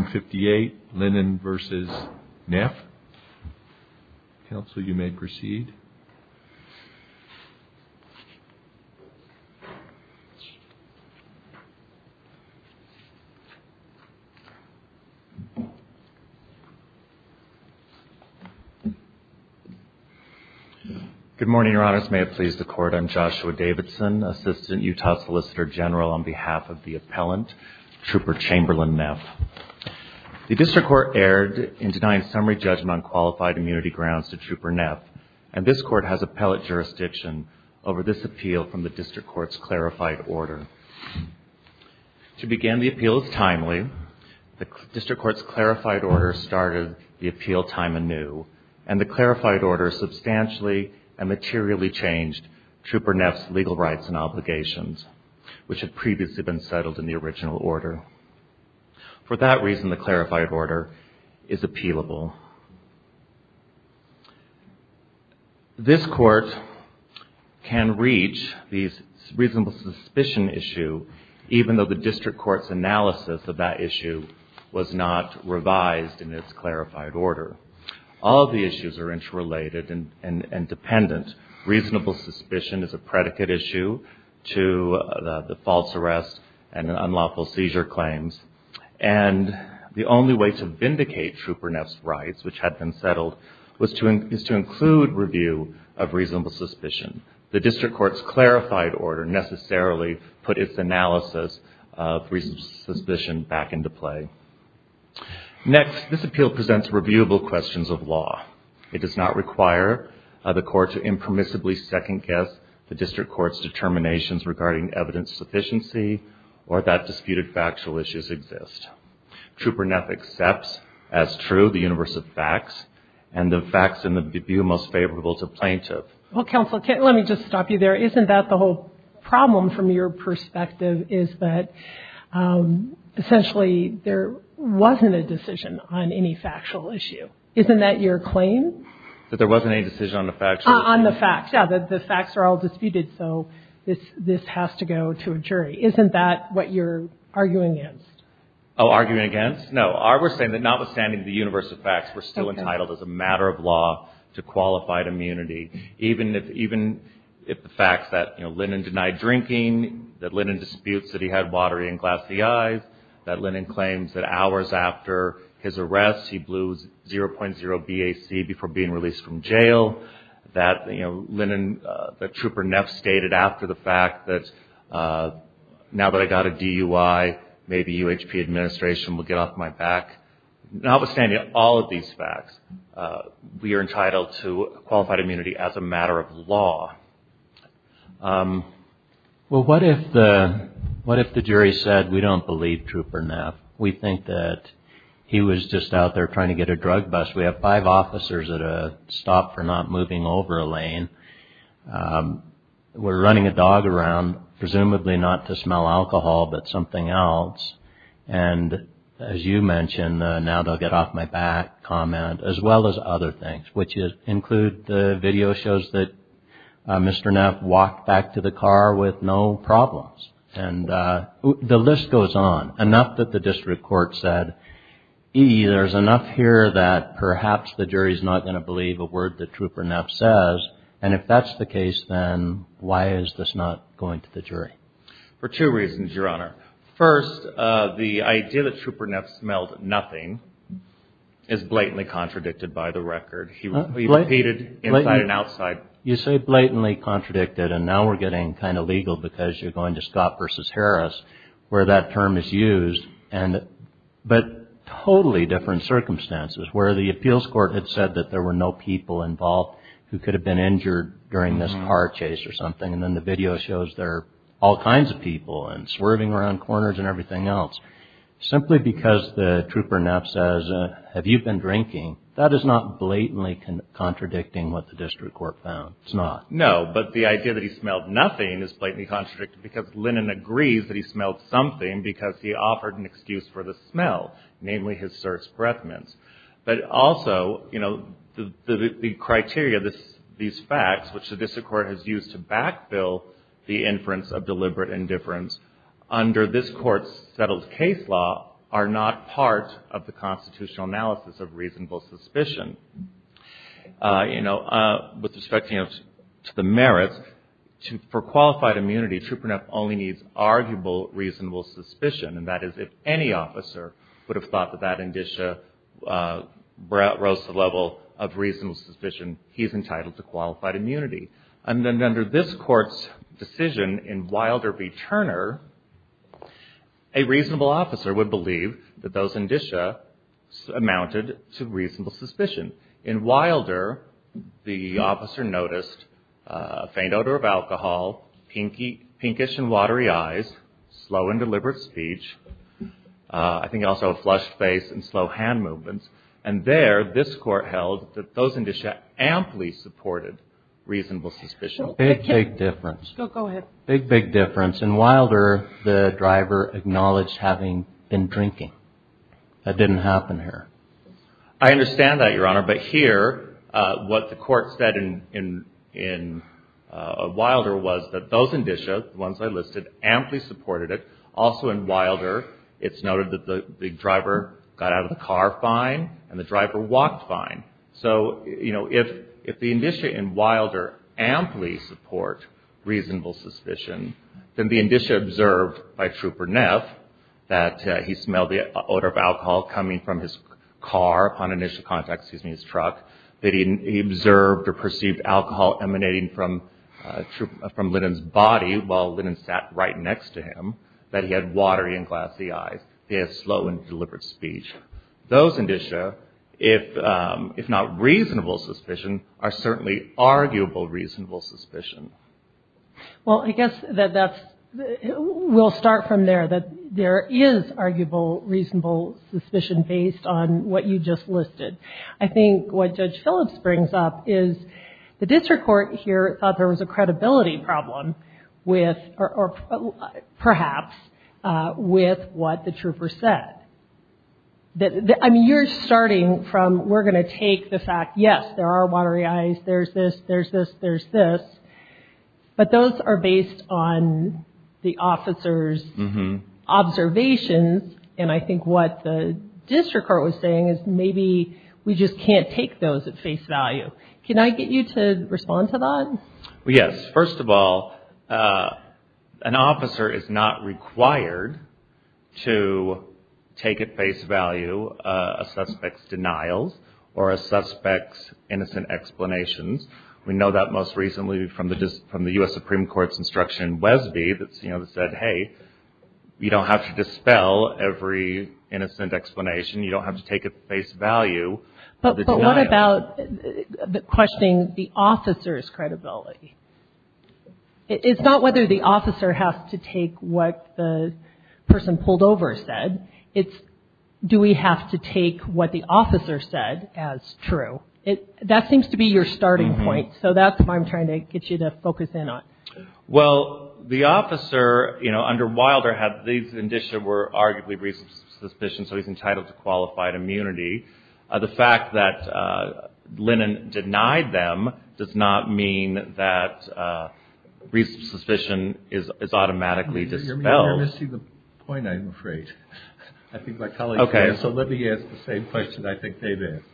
Good morning, Your Honors. May it please the Court, I'm Joshua Davidson, Assistant Utah Solicitor General on behalf of the Appellant, Trooper Chamberlain Neff. The District Court erred in denying summary judgment on qualified immunity grounds to Trooper Neff, and this Court has appellate jurisdiction over this appeal from the District Court's clarified order. To begin, the appeal is timely. The District Court's clarified order started the appeal time anew, and the clarified order substantially and materially changed Trooper Neff's legal rights and obligations, which had previously been settled in the original order. For that reason, the clarified order is appealable. This Court can reach the reasonable suspicion issue, even though the District Court's analysis of that issue was not revised in its clarified order. All of the issues are interrelated and dependent. Reasonable suspicion is a predicate issue to the false arrest and unlawful seizure claims. And the only way to vindicate Trooper Neff's rights, which had been settled, is to include review of reasonable suspicion. The District Court's clarified order necessarily put its analysis of reasonable suspicion back into play. Next, this appeal presents reviewable questions of law. It does not require the Court to impermissibly second-guess the District Court's determinations regarding evidence sufficiency or that disputed factual issues exist. Trooper Neff accepts as true the universe of facts and the facts in the view most favorable to plaintiff. Well, Counsel, let me just stop you there. Isn't that the whole problem from your perspective is that essentially there wasn't a decision on any factual issue? Isn't that your claim? That there wasn't any decision on the factual issue? On the facts, yeah. The facts are all disputed, so this has to go to a jury. Isn't that what you're arguing against? Oh, arguing against? No. We're saying that notwithstanding the universe of facts, we're still entitled as a matter of law to qualified immunity, even if the facts that Lennon denied drinking, that Lennon disputes that he had watery and glassy eyes, that Lennon claims that hours after his arrest he blew 0.0 BAC before being released from jail, that Lennon, that Trooper Neff stated after the fact that now that I got a DUI, maybe UHP administration will get off my back. Notwithstanding all of these facts, we are entitled to qualified immunity as a matter of law. Well, what if the jury said we don't believe Trooper Neff? We think that he was just out there trying to get a drug bust. We have five officers at a stop for not moving over a lane. We're running a dog around, presumably not to smell alcohol, but something else. And as you mentioned, now they'll get off my back comment, as well as other things, which include the video shows that Mr. Neff walked back to the car with no problems. And the list goes on, enough that the district court said, e, there's enough here that perhaps the jury's not going to believe a word that Trooper Neff says. And if that's the case, then why is this not going to the jury? For two reasons, Your Honor. First, the idea that Trooper Neff smelled nothing is blatantly contradicted by the record. He repeated inside and outside. You say blatantly contradicted, and now we're getting kind of legal because you're going to Scott versus Harris, where that term is used. But totally different circumstances, where the appeals court had said that there were no people involved who could have been injured during this car chase or something. And then the video shows there are all kinds of people and swerving around corners and everything else. Simply because the Trooper Neff says, have you been drinking? That is not blatantly contradicting what the district court found. It's not. No, but the idea that he smelled nothing is blatantly contradicted because Lennon agrees that he smelled something because he offered an excuse for the smell, namely his certs breath mints. But also, you know, the criteria, these facts, which the district court has used to backfill the inference of deliberate indifference, under this court's settled case law, are not part of the constitutional analysis of reasonable suspicion. You know, with respect, you know, to the merits, for qualified immunity, Trooper Neff only needs arguable, reasonable suspicion. And that is, if any officer would have thought that that indicia rose to the level of reasonable suspicion, he's entitled to qualified immunity. And then under this court's decision in Wilder v. Turner, a reasonable officer would believe that those indicia amounted to reasonable suspicion. In Wilder, the officer noticed a faint odor of alcohol, pinkish and watery eyes, slow and deliberate speech, I think also a flushed face and slow hand movements. And there, this court held that those indicia amply supported reasonable suspicion. Big, big difference. Go ahead. Big, big difference. In Wilder, the driver acknowledged having been drinking. That didn't happen here. I understand that, Your Honor. But here, what the court said in Wilder was that those indicia, the ones I listed, amply supported it. Also in Wilder, it's noted that the driver got out of the car fine and the driver walked fine. So, you know, if the indicia in Wilder amply support reasonable suspicion, then the indicia observed by Trooper Neff, that he smelled the car on initial contact, excuse me, his truck, that he observed or perceived alcohol emanating from Linnan's body while Linnan sat right next to him, that he had watery and glassy eyes, he had slow and deliberate speech. Those indicia, if not reasonable suspicion, are certainly arguable reasonable suspicion. Well, I guess that that's, we'll start from there, that there is arguable reasonable suspicion based on what you just listed. I think what Judge Phillips brings up is the district court here thought there was a credibility problem with, or perhaps, with what the trooper said. I mean, you're starting from, we're going to take the fact, yes, there are watery eyes, there's this, there's this, there's this. But those are based on the officer's observations. And I think what the district court was saying is maybe we just can't take those at face value. Can I get you to respond to that? Well, yes. First of all, an officer is not required to take at face value a suspect's denials or a suspect's innocent explanations. We know that most recently from the U.S. Supreme Court's instruction in Wesby that said, hey, you don't have to dispel every innocent explanation, you don't have to take at face value the denial. What about questioning the officer's credibility? It's not whether the officer has to take what the person pulled over said, it's do we have to take what the officer said as true? That seems to be your starting point. So that's what I'm trying to get you to focus in on. Well, the officer, you know, under Wilder had, these indicia were arguably reasonable suspicion, so he's entitled to qualified immunity. The fact that Lennon denied them does not mean that reasonable suspicion is automatically dispelled. You're missing the point, I'm afraid. I think my colleagues did. Okay. So let me ask the same question I think they've asked.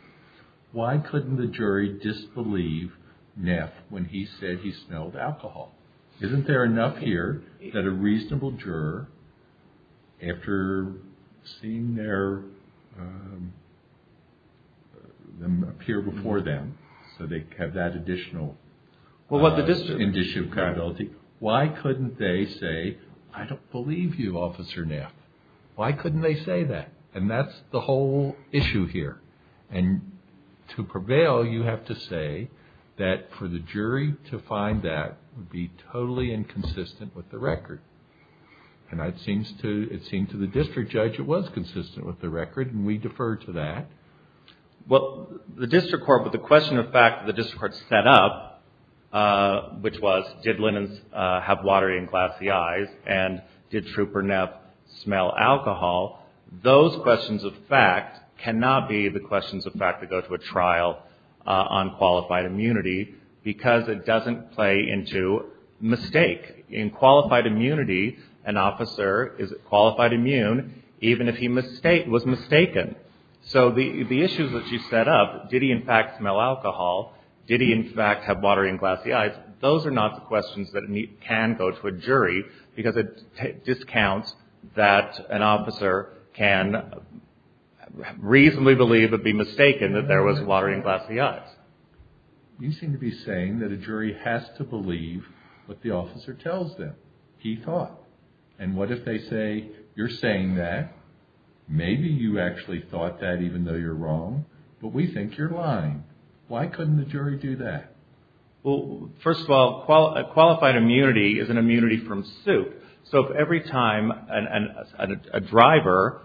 Why couldn't the jury disbelieve Neff when he said he smelled alcohol? Isn't there enough here that a reasonable juror, after seeing them appear before them, so they have that additional indicia of credibility, why couldn't they say, I don't believe you, Officer Neff? Why couldn't they say that? And that's the whole issue here. And to prevail, you have to say that for the jury to find that would be totally inconsistent with the record. And it seems to the district judge it was consistent with the record, and we defer to that. Well, the district court, with the question of fact the district court set up, which was did Lennon have water in glassy eyes, and did Trooper Neff smell alcohol, those questions of fact cannot be the questions of fact that go to a trial on qualified immunity, because it doesn't play into mistake. In qualified immunity, an officer is qualified immune even if he was mistaken. So the issues that you set up, did he in fact smell alcohol, did he in fact have water in glassy eyes, those are not the questions that can go to a jury, because it discounts that an officer can reasonably believe or be mistaken that there was water in glassy eyes. You seem to be saying that a jury has to believe what the officer tells them. He thought. And what if they say, you're saying that, maybe you actually thought that even though you're wrong, but we think you're lying. Why couldn't the jury do that? Well, first of all, qualified immunity is an immunity from suit. So if every time a driver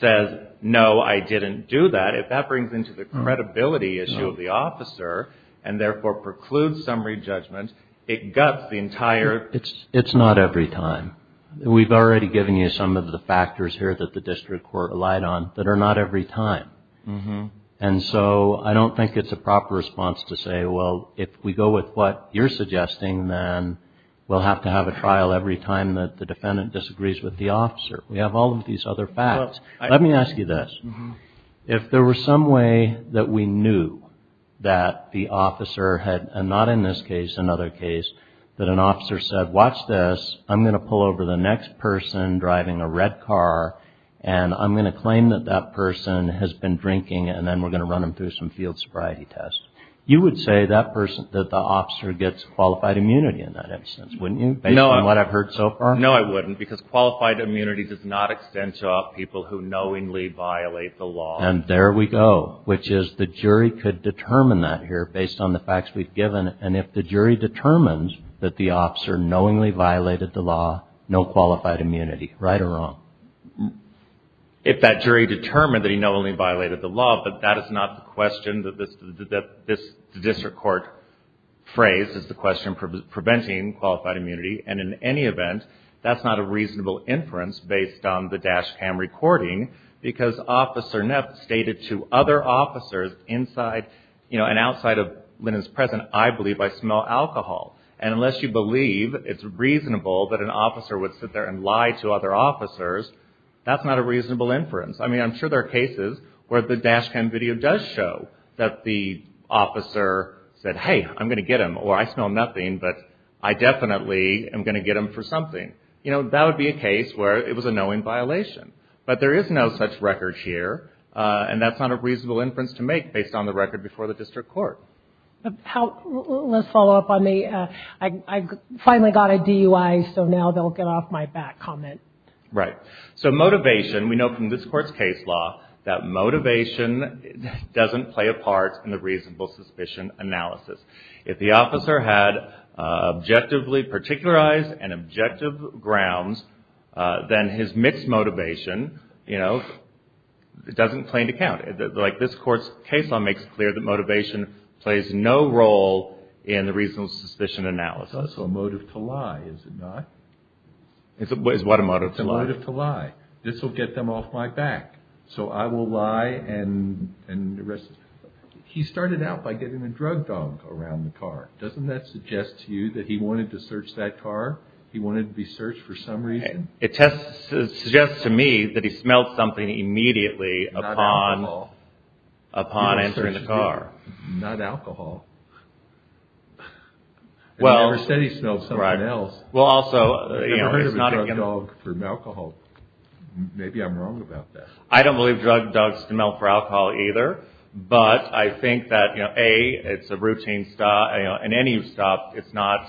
says, no, I didn't do that, if that brings into the credibility issue of the officer and therefore precludes summary judgment, it guts the entire. It's not every time. We've already given you some of the factors here that the district court relied on that are not every time. And so I don't think it's a proper response to say, well, if we go with what you're suggesting, then we'll have to have a trial every time that the defendant disagrees with the officer. We have all of these other facts. Let me ask you this. If there were some way that we knew that the officer had, and not in this case, another case, that an officer said, watch this, I'm going to pull over the next person driving a red car, and I'm going to claim that that person has been drinking, and then we're going to run them through some field sobriety tests, you would say that the officer gets qualified immunity in that instance, wouldn't you, based on what I've heard so far? No, I wouldn't, because qualified immunity does not extend to people who knowingly violate the law. And there we go, which is the jury could determine that here based on the facts we've given. And if the jury determines that the officer knowingly violated the law, no qualified immunity. Right or wrong? If that jury determined that he knowingly violated the law, but that is not the question that this district court phrase is the question for preventing qualified immunity. And in any event, that's not a reasonable inference based on the dash cam recording, because Officer Neff stated to other officers inside and outside of Lennon's presence, I believe I smell alcohol. And unless you believe it's reasonable that an officer would sit there and lie to other officers, that's not a reasonable inference. I mean, I'm sure there are cases where the dash cam video does show that the officer said, hey, I'm going to get him, or I smell nothing, but I definitely am going to get him for something. That would be a case where it was a knowing violation. But there is no such record here, and that's not a reasonable inference to make based on the record before the district court. Let's follow up on the, I finally got a DUI, so now they'll get off my back comment. Right. So motivation, we know from this court's case law that motivation doesn't play a part in the reasonable suspicion analysis. If the officer had objectively particularized and objective grounds, then his mixed motivation, you know, doesn't claim to count. Like this court's case law makes it clear that motivation plays no role in the reasonable suspicion analysis. So it's a motive to lie, is it not? Is what a motive to lie? It's a motive to lie. This will get them off my back. So I will lie and arrest. He started out by getting a drug dog around the car. Doesn't that suggest to you that he wanted to search that car? He wanted to be searched for some reason? It suggests to me that he smelled something immediately upon entering the car. Not alcohol. He never said he smelled something else. I've never heard of a drug dog for alcohol. Maybe I'm wrong about that. I don't believe drug dogs smell for alcohol either. But I think that, A, it's a routine stop. In any stop, it's not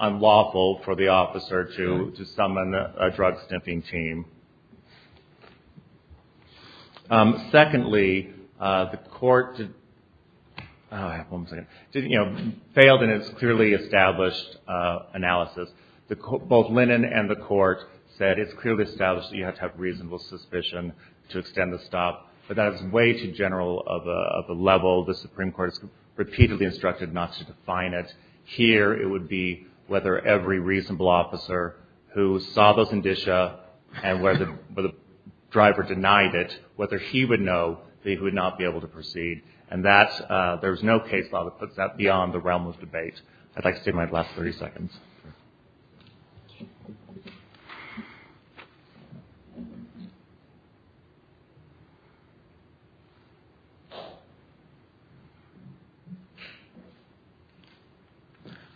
unlawful for the officer to summon a drug sniffing team. Secondly, the court failed in its clearly established analysis. Both Linnan and the court said it's clearly established that you have to have reasonable suspicion to extend the stop. But that is way too general of a level. The Supreme Court has repeatedly instructed not to define it. Here it would be whether every reasonable officer who saw those indicia and where the driver denied it, whether he would know that he would not be able to proceed. And there is no case law that puts that beyond the realm of debate. I'd like to take my last 30 seconds.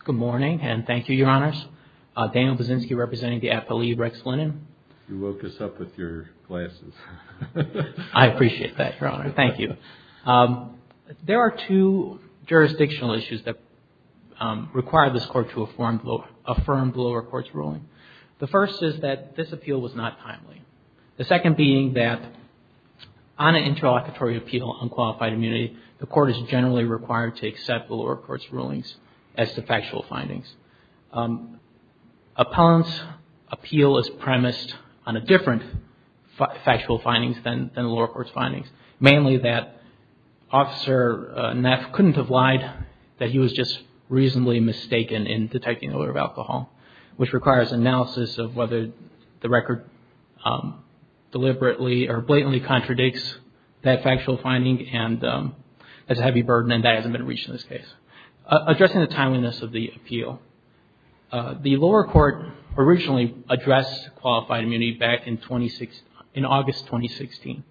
Good morning, and thank you, Your Honors. Daniel Bozinski representing the appellee, Rex Linnan. You woke us up with your glasses. I appreciate that, Your Honor. Thank you. There are two jurisdictional issues that require this court to affirm the lower court's ruling. The first is that this appeal was not timely. The second being that on an interlocutory appeal on qualified immunity, the court is generally required to accept the lower court's rulings as the factual findings. Appellant's appeal is premised on a different factual findings than the lower court's findings, mainly that Officer Neff couldn't have lied, that he was just reasonably mistaken in detecting the odor of alcohol, which requires analysis of whether the record deliberately or blatantly contradicts that factual finding, and that's a heavy burden, and that hasn't been reached in this case. Addressing the timeliness of the appeal, the lower court originally addressed qualified immunity back in August 2016.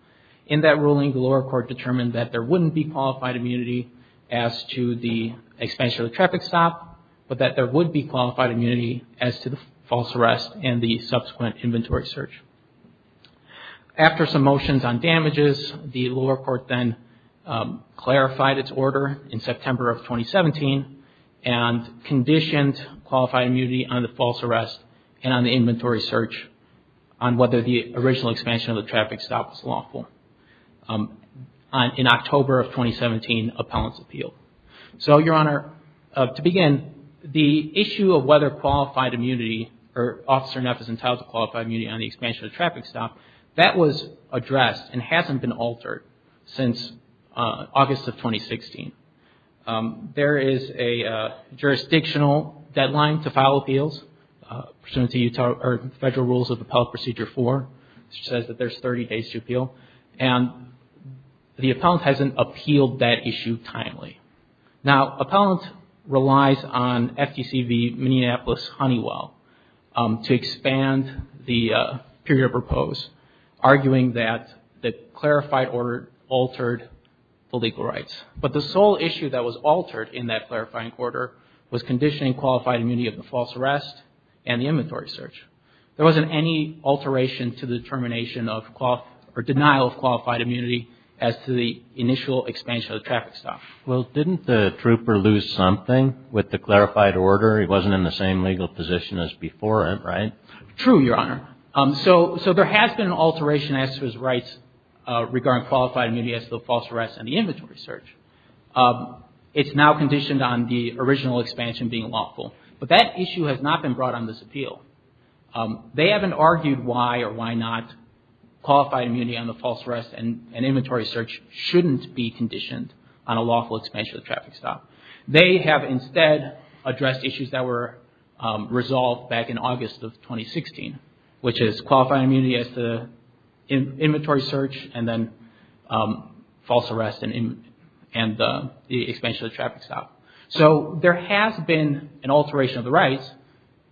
In that ruling, the lower court determined that there wouldn't be qualified immunity as to the expansion of the traffic stop, but that there would be qualified immunity as to the false arrest and the subsequent inventory search. After some motions on damages, the lower court then clarified its order in September of 2017 and conditioned qualified immunity on the false arrest and on the inventory search on whether the original expansion of the traffic stop was lawful in October of 2017, appellant's appeal. So, Your Honor, to begin, the issue of whether qualified immunity or Officer Neff is entitled to qualified immunity on the expansion of the traffic stop, that was addressed and hasn't been altered since August of 2016. There is a jurisdictional deadline to file appeals, pursuant to Federal Rules of Appellant Procedure 4, which says that there's 30 days to appeal, and the appellant hasn't appealed that issue timely. Now, appellant relies on FDC v. Minneapolis-Honeywell to expand the period of repose, arguing that the clarified order altered the legal rights. But the sole issue that was altered in that clarifying order was conditioning qualified immunity of the false arrest and the inventory search. There wasn't any alteration to the determination of or denial of qualified immunity as to the initial expansion of the traffic stop. Well, didn't the trooper lose something with the clarified order? He wasn't in the same legal position as before it, right? True, Your Honor. So there has been an alteration as to his rights regarding qualified immunity as to the false arrest and the inventory search. It's now conditioned on the original expansion being lawful. But that issue has not been brought on this appeal. They haven't argued why or why not qualified immunity on the false arrest and inventory search shouldn't be conditioned on a lawful expansion of the traffic stop. They have instead addressed issues that were resolved back in August of 2016, which is qualified immunity as to the inventory search and then false arrest and the expansion of the traffic stop. So there has been an alteration of the rights,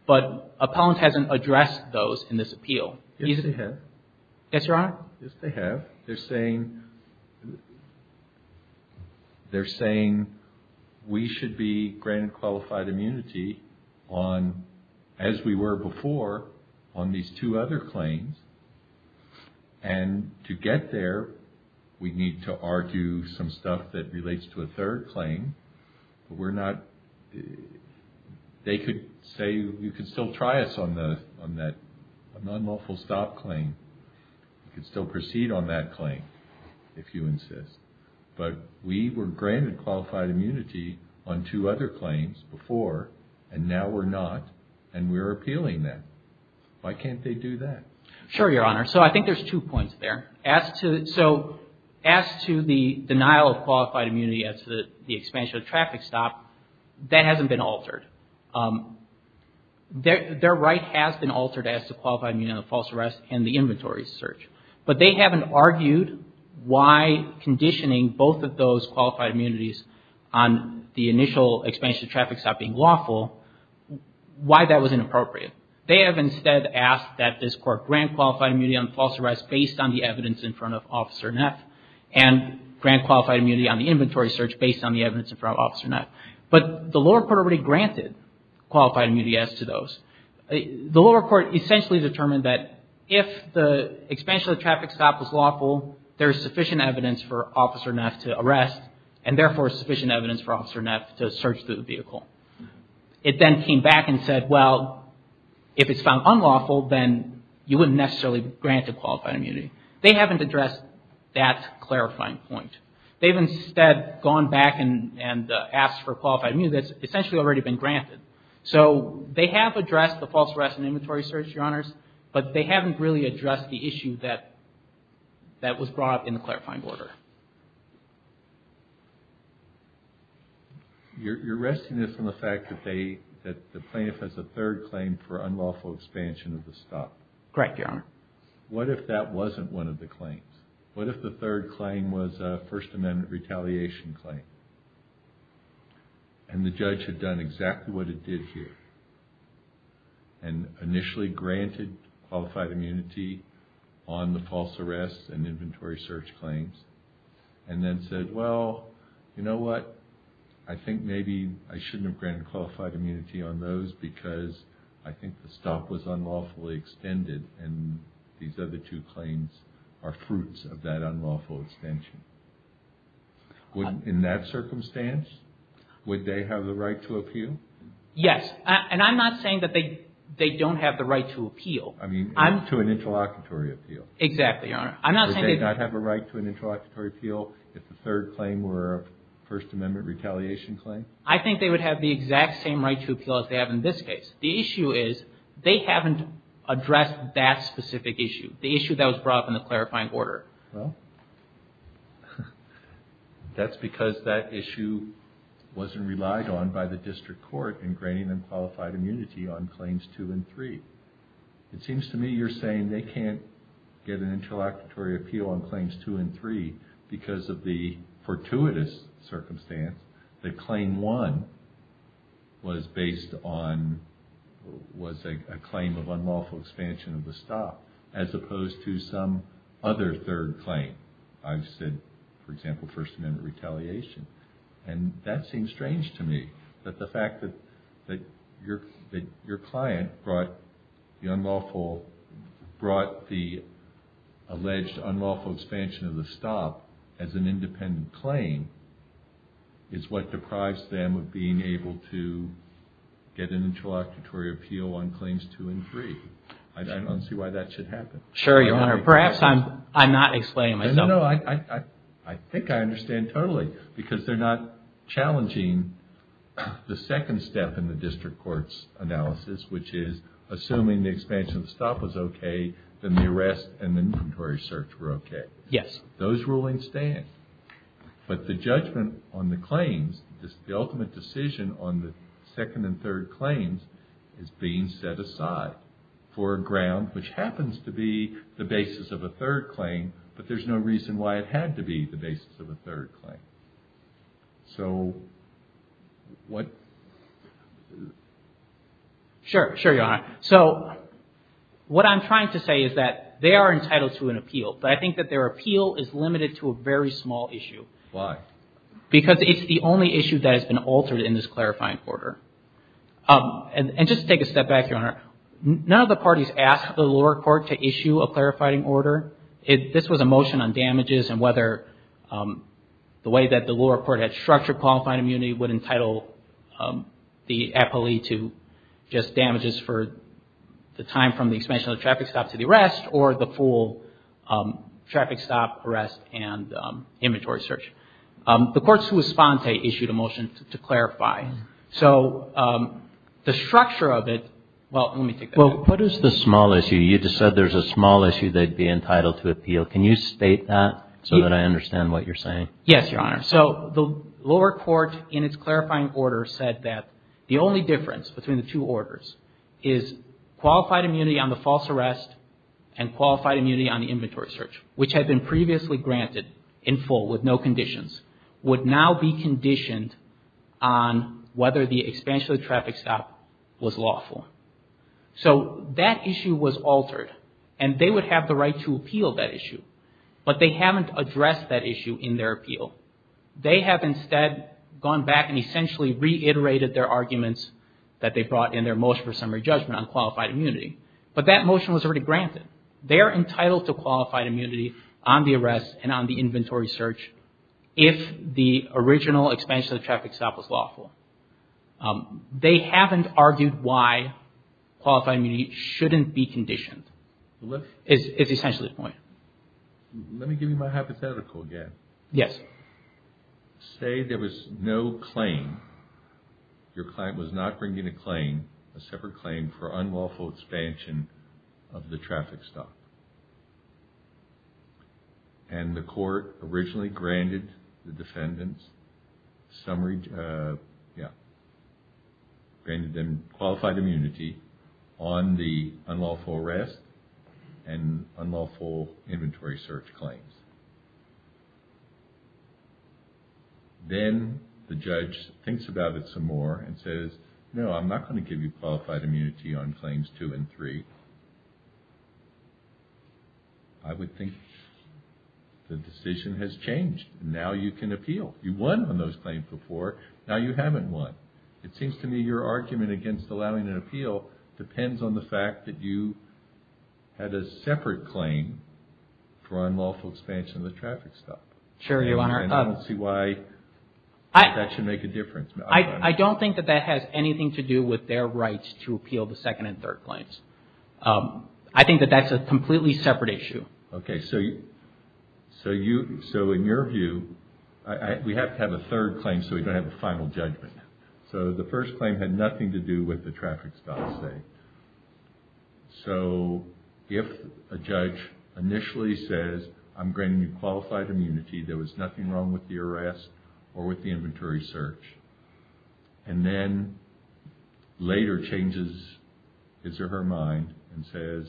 but Appellant hasn't addressed those in this appeal. Yes, they have. Yes, Your Honor. Yes, they have. They're saying we should be granted qualified immunity on, as we were before, on these two other claims. And to get there, we need to argue some stuff that relates to a third claim. They could say you could still try us on that non-lawful stop claim. You could still proceed on that claim, if you insist. But we were granted qualified immunity on two other claims before, and now we're not, and we're appealing them. Why can't they do that? Sure, Your Honor. So I think there's two points there. So as to the denial of qualified immunity as to the expansion of the traffic stop, that hasn't been altered. Their right has been altered as to qualified immunity on the false arrest and the inventory search. But they haven't argued why conditioning both of those qualified immunities on the initial expansion of traffic stop being lawful, why that was inappropriate. They have instead asked that this Court grant qualified immunity on false arrest based on the evidence in front of Officer Neff, and grant qualified immunity on the inventory search based on the evidence in front of Officer Neff. But the lower court already granted qualified immunity as to those. The lower court essentially determined that if the expansion of the traffic stop was lawful, there is sufficient evidence for Officer Neff to arrest, and therefore sufficient evidence for Officer Neff to search through the vehicle. It then came back and said, well, if it's found unlawful, then you wouldn't necessarily grant a qualified immunity. They haven't addressed that clarifying point. They've instead gone back and asked for qualified immunity that's essentially already been granted. So they have addressed the false arrest and inventory search, Your Honors, but they haven't really addressed the issue that was brought up in the clarifying order. You're resting this on the fact that the plaintiff has a third claim for unlawful expansion of the stop. Correct, Your Honor. What if that wasn't one of the claims? What if the third claim was a First Amendment retaliation claim, and the judge had done exactly what it did here, and initially granted qualified immunity on the false arrest and inventory search claims, and then said, well, you know what? I think maybe I shouldn't have granted qualified immunity on those because I think the stop was unlawfully extended, and these other two claims are fruits of that unlawful extension. In that circumstance, would they have the right to appeal? Yes, and I'm not saying that they don't have the right to appeal. I mean, to an interlocutory appeal. Exactly, Your Honor. Would they not have a right to an interlocutory appeal if the third claim were a First Amendment retaliation claim? I think they would have the exact same right to appeal as they have in this case. The issue is they haven't addressed that specific issue, the issue that was brought up in the clarifying order. Well, that's because that issue wasn't relied on by the district court in granting them qualified immunity on claims two and three. It seems to me you're saying they can't get an interlocutory appeal on claims two and three because of the fortuitous circumstance that claim one was a claim of unlawful expansion of the stop as opposed to some other third claim. I've said, for example, First Amendment retaliation, and that seems strange to me that the fact that your client brought the alleged unlawful expansion of the stop as an independent claim is what deprives them of being able to get an interlocutory appeal on claims two and three. I don't see why that should happen. Sure, Your Honor. Perhaps I'm not explaining myself. No, I think I understand totally because they're not challenging the second step in the district court's analysis, which is assuming the expansion of the stop was okay, then the arrest and the inventory search were okay. Yes. Those rulings stand. But the judgment on the claims, the ultimate decision on the second and third claims is being set aside for a ground which happens to be the basis of a third claim, but there's no reason why it had to be the basis of a third claim. So what? Sure, Your Honor. So what I'm trying to say is that they are entitled to an appeal, but I think that their appeal is limited to a very small issue. Why? Because it's the only issue that has been altered in this clarifying order. And just to take a step back, Your Honor, none of the parties asked the lower court to issue a clarifying order. This was a motion on damages and whether the way that the lower court had structured qualifying immunity would entitle the appellee to just damages for the time from the expansion of the traffic stop to the arrest or the full traffic stop, arrest, and inventory search. The court's response issued a motion to clarify. So the structure of it, well, let me take that. Well, what is the small issue? You just said there's a small issue they'd be entitled to appeal. Can you state that so that I understand what you're saying? Yes, Your Honor. So the lower court in its clarifying order said that the only difference between the two orders is qualified immunity on the false arrest and qualified immunity on the inventory search, which had been previously granted in full with no conditions, would now be conditioned on whether the expansion of the traffic stop was lawful. So that issue was altered, and they would have the right to appeal that issue. But they haven't addressed that issue in their appeal. They have instead gone back and essentially reiterated their arguments that they brought in their motion for summary judgment on qualified immunity. But that motion was already granted. They are entitled to qualified immunity on the arrest and on the inventory search if the original expansion of the traffic stop was lawful. They haven't argued why qualified immunity shouldn't be conditioned. It's essentially the point. Let me give you my hypothetical again. Yes. Say there was no claim, your client was not bringing a claim, a separate claim for unlawful expansion of the traffic stop. And the court originally granted the defendants qualified immunity on the unlawful arrest and unlawful inventory search claims. Then the judge thinks about it some more and says, no, I'm not going to give you qualified immunity on claims two and three. I would think the decision has changed. Now you can appeal. You won on those claims before. Now you haven't won. It seems to me your argument against allowing an appeal depends on the fact that you had a separate claim for unlawful expansion of the traffic stop. And I don't see why that should make a difference. I don't think that that has anything to do with their rights to appeal the second and third claims. I think that that's a completely separate issue. Okay. So in your view, we have to have a third claim so we don't have a final judgment. So the first claim had nothing to do with the traffic stop, say. So if a judge initially says, I'm granting you qualified immunity, there was nothing wrong with the arrest or with the inventory search. And then later changes his or her mind and says,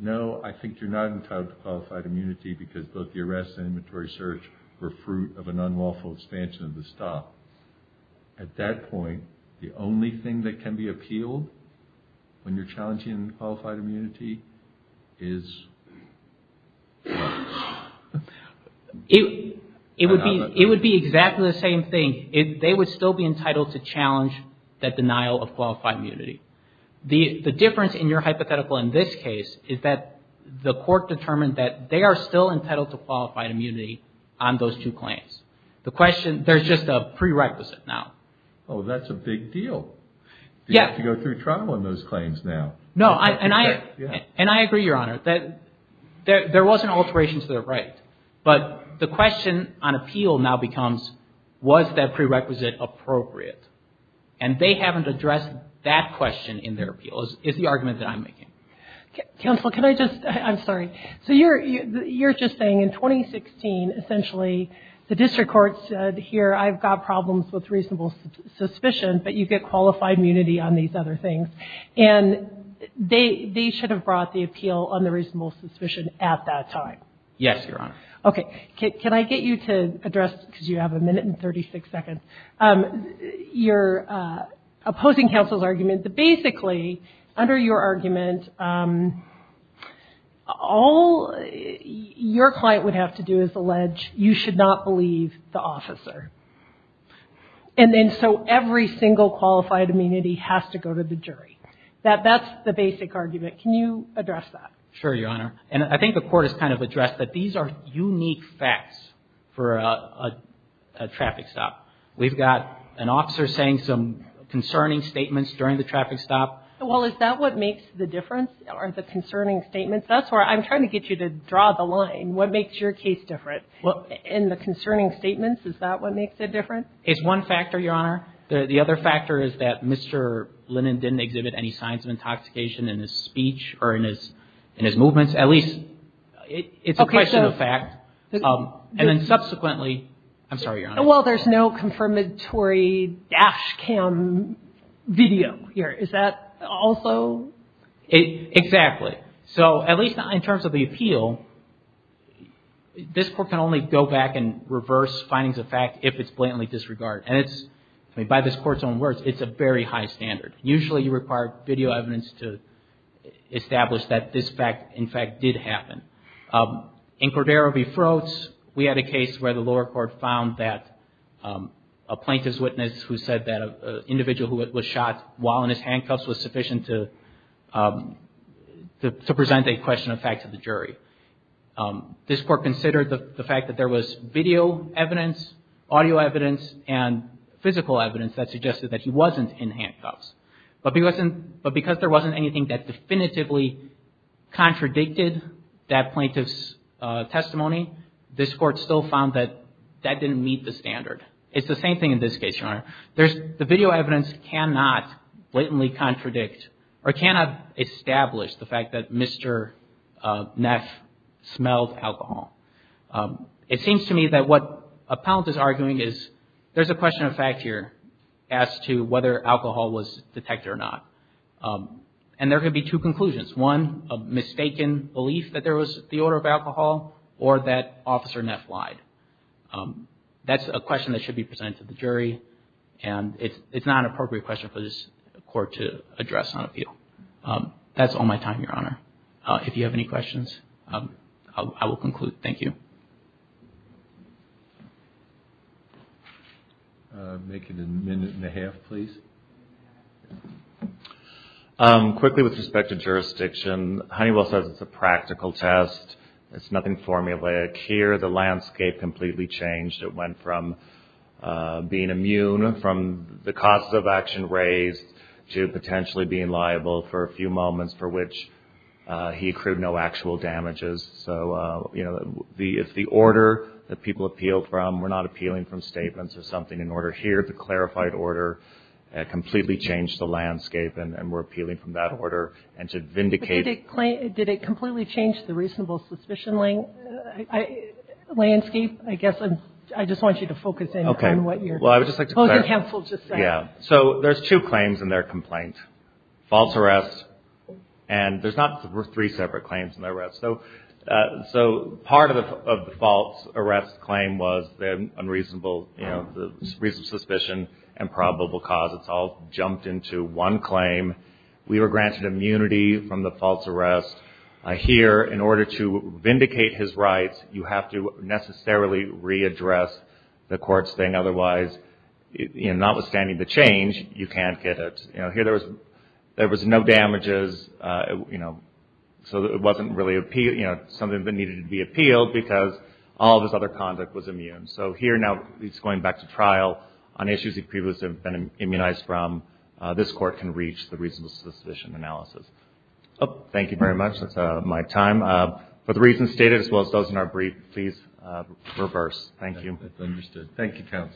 no, I think you're not entitled to qualified immunity because both the arrest and inventory search were fruit of an unlawful expansion of the stop. At that point, the only thing that can be appealed when you're challenging qualified immunity is? It would be exactly the same thing. They would still be entitled to challenge that denial of qualified immunity. The difference in your hypothetical in this case is that the court determined that they are still entitled to qualified immunity on those two claims. The question, there's just a prerequisite now. Oh, that's a big deal. You have to go through trial on those claims now. No. And I agree, Your Honor, that there wasn't alteration to their right. But the question on appeal now becomes, was that prerequisite appropriate? And they haven't addressed that question in their appeal is the argument that I'm making. Counsel, can I just, I'm sorry. So you're just saying in 2016, essentially, the district court said, here, I've got problems with reasonable suspicion, but you get qualified immunity on these other things. And they should have brought the appeal on the reasonable suspicion at that time. Yes, Your Honor. Okay. Can I get you to address, because you have a minute and 36 seconds, your opposing counsel's argument that basically, under your argument, all your client would have to do is allege you should not believe the officer. And then so every single qualified immunity has to go to the jury. That's the basic argument. Can you address that? Sure, Your Honor. And I think the court has kind of addressed that these are unique facts for a traffic stop. We've got an officer saying some concerning statements during the traffic stop. Well, is that what makes the difference are the concerning statements? That's where I'm trying to get you to draw the line. What makes your case different? In the concerning statements, is that what makes it different? It's one factor, Your Honor. The other factor is that Mr. Linnan didn't exhibit any signs of intoxication in his speech or in his movements. At least, it's a question of fact. And then subsequently, I'm sorry, Your Honor. Well, there's no confirmatory dash cam video here. Is that also? Exactly. So at least in terms of the appeal, this court can only go back and reverse findings of fact if it's blatantly disregarded. And by this court's own words, it's a very high standard. Usually, you require video evidence to establish that this fact, in fact, did happen. In Cordero v. Frost, we had a case where the lower court found that a plaintiff's witness who said that an individual who was shot while in his handcuffs was sufficient to present a question of fact to the jury. This court considered the fact that there was video evidence, audio evidence, and physical evidence that suggested that he wasn't in handcuffs. But because there wasn't anything that definitively contradicted that plaintiff's testimony, this court still found that that didn't meet the standard. It's the same thing in this case, Your Honor. The video evidence cannot blatantly contradict or cannot establish the fact that Mr. Neff smelled alcohol. It seems to me that what a penalty is arguing is there's a question of fact here as to whether alcohol was detected or not. And there could be two conclusions, one, a mistaken belief that there was the odor of alcohol, or that Officer Neff lied. That's a question that should be presented to the jury, and it's not an appropriate question for this court to address on appeal. That's all my time, Your Honor. If you have any questions, I will conclude. Thank you. Quickly with respect to jurisdiction, Honeywell says it's a practical test. It's nothing formulaic. Here the landscape completely changed. It went from being immune from the cost of action raised to potentially being liable for a few moments, for which he accrued no actual damages. So, you know, if the order that people appealed from were not appealing from statements or something, in order here, the clarified order completely changed the landscape, and we're appealing from that order. Did it completely change the reasonable suspicion landscape? I guess I just want you to focus in on what you're saying. So there's two claims in their complaint, false arrest, and there's not three separate claims in the arrest. So part of the false arrest claim was unreasonable suspicion and probable cause. It's all jumped into one claim. We were granted immunity from the false arrest. Here, in order to vindicate his rights, you have to necessarily readdress the court's thing. Otherwise, notwithstanding the change, you can't get it. Here there was no damages, so it wasn't really something that needed to be appealed because all of his other conduct was immune. So here now he's going back to trial on issues he previously had been immunized from. This court can reach the reasonable suspicion analysis. Thank you very much. That's my time. For the reasons stated, as well as those in our brief, please reverse. Thank you.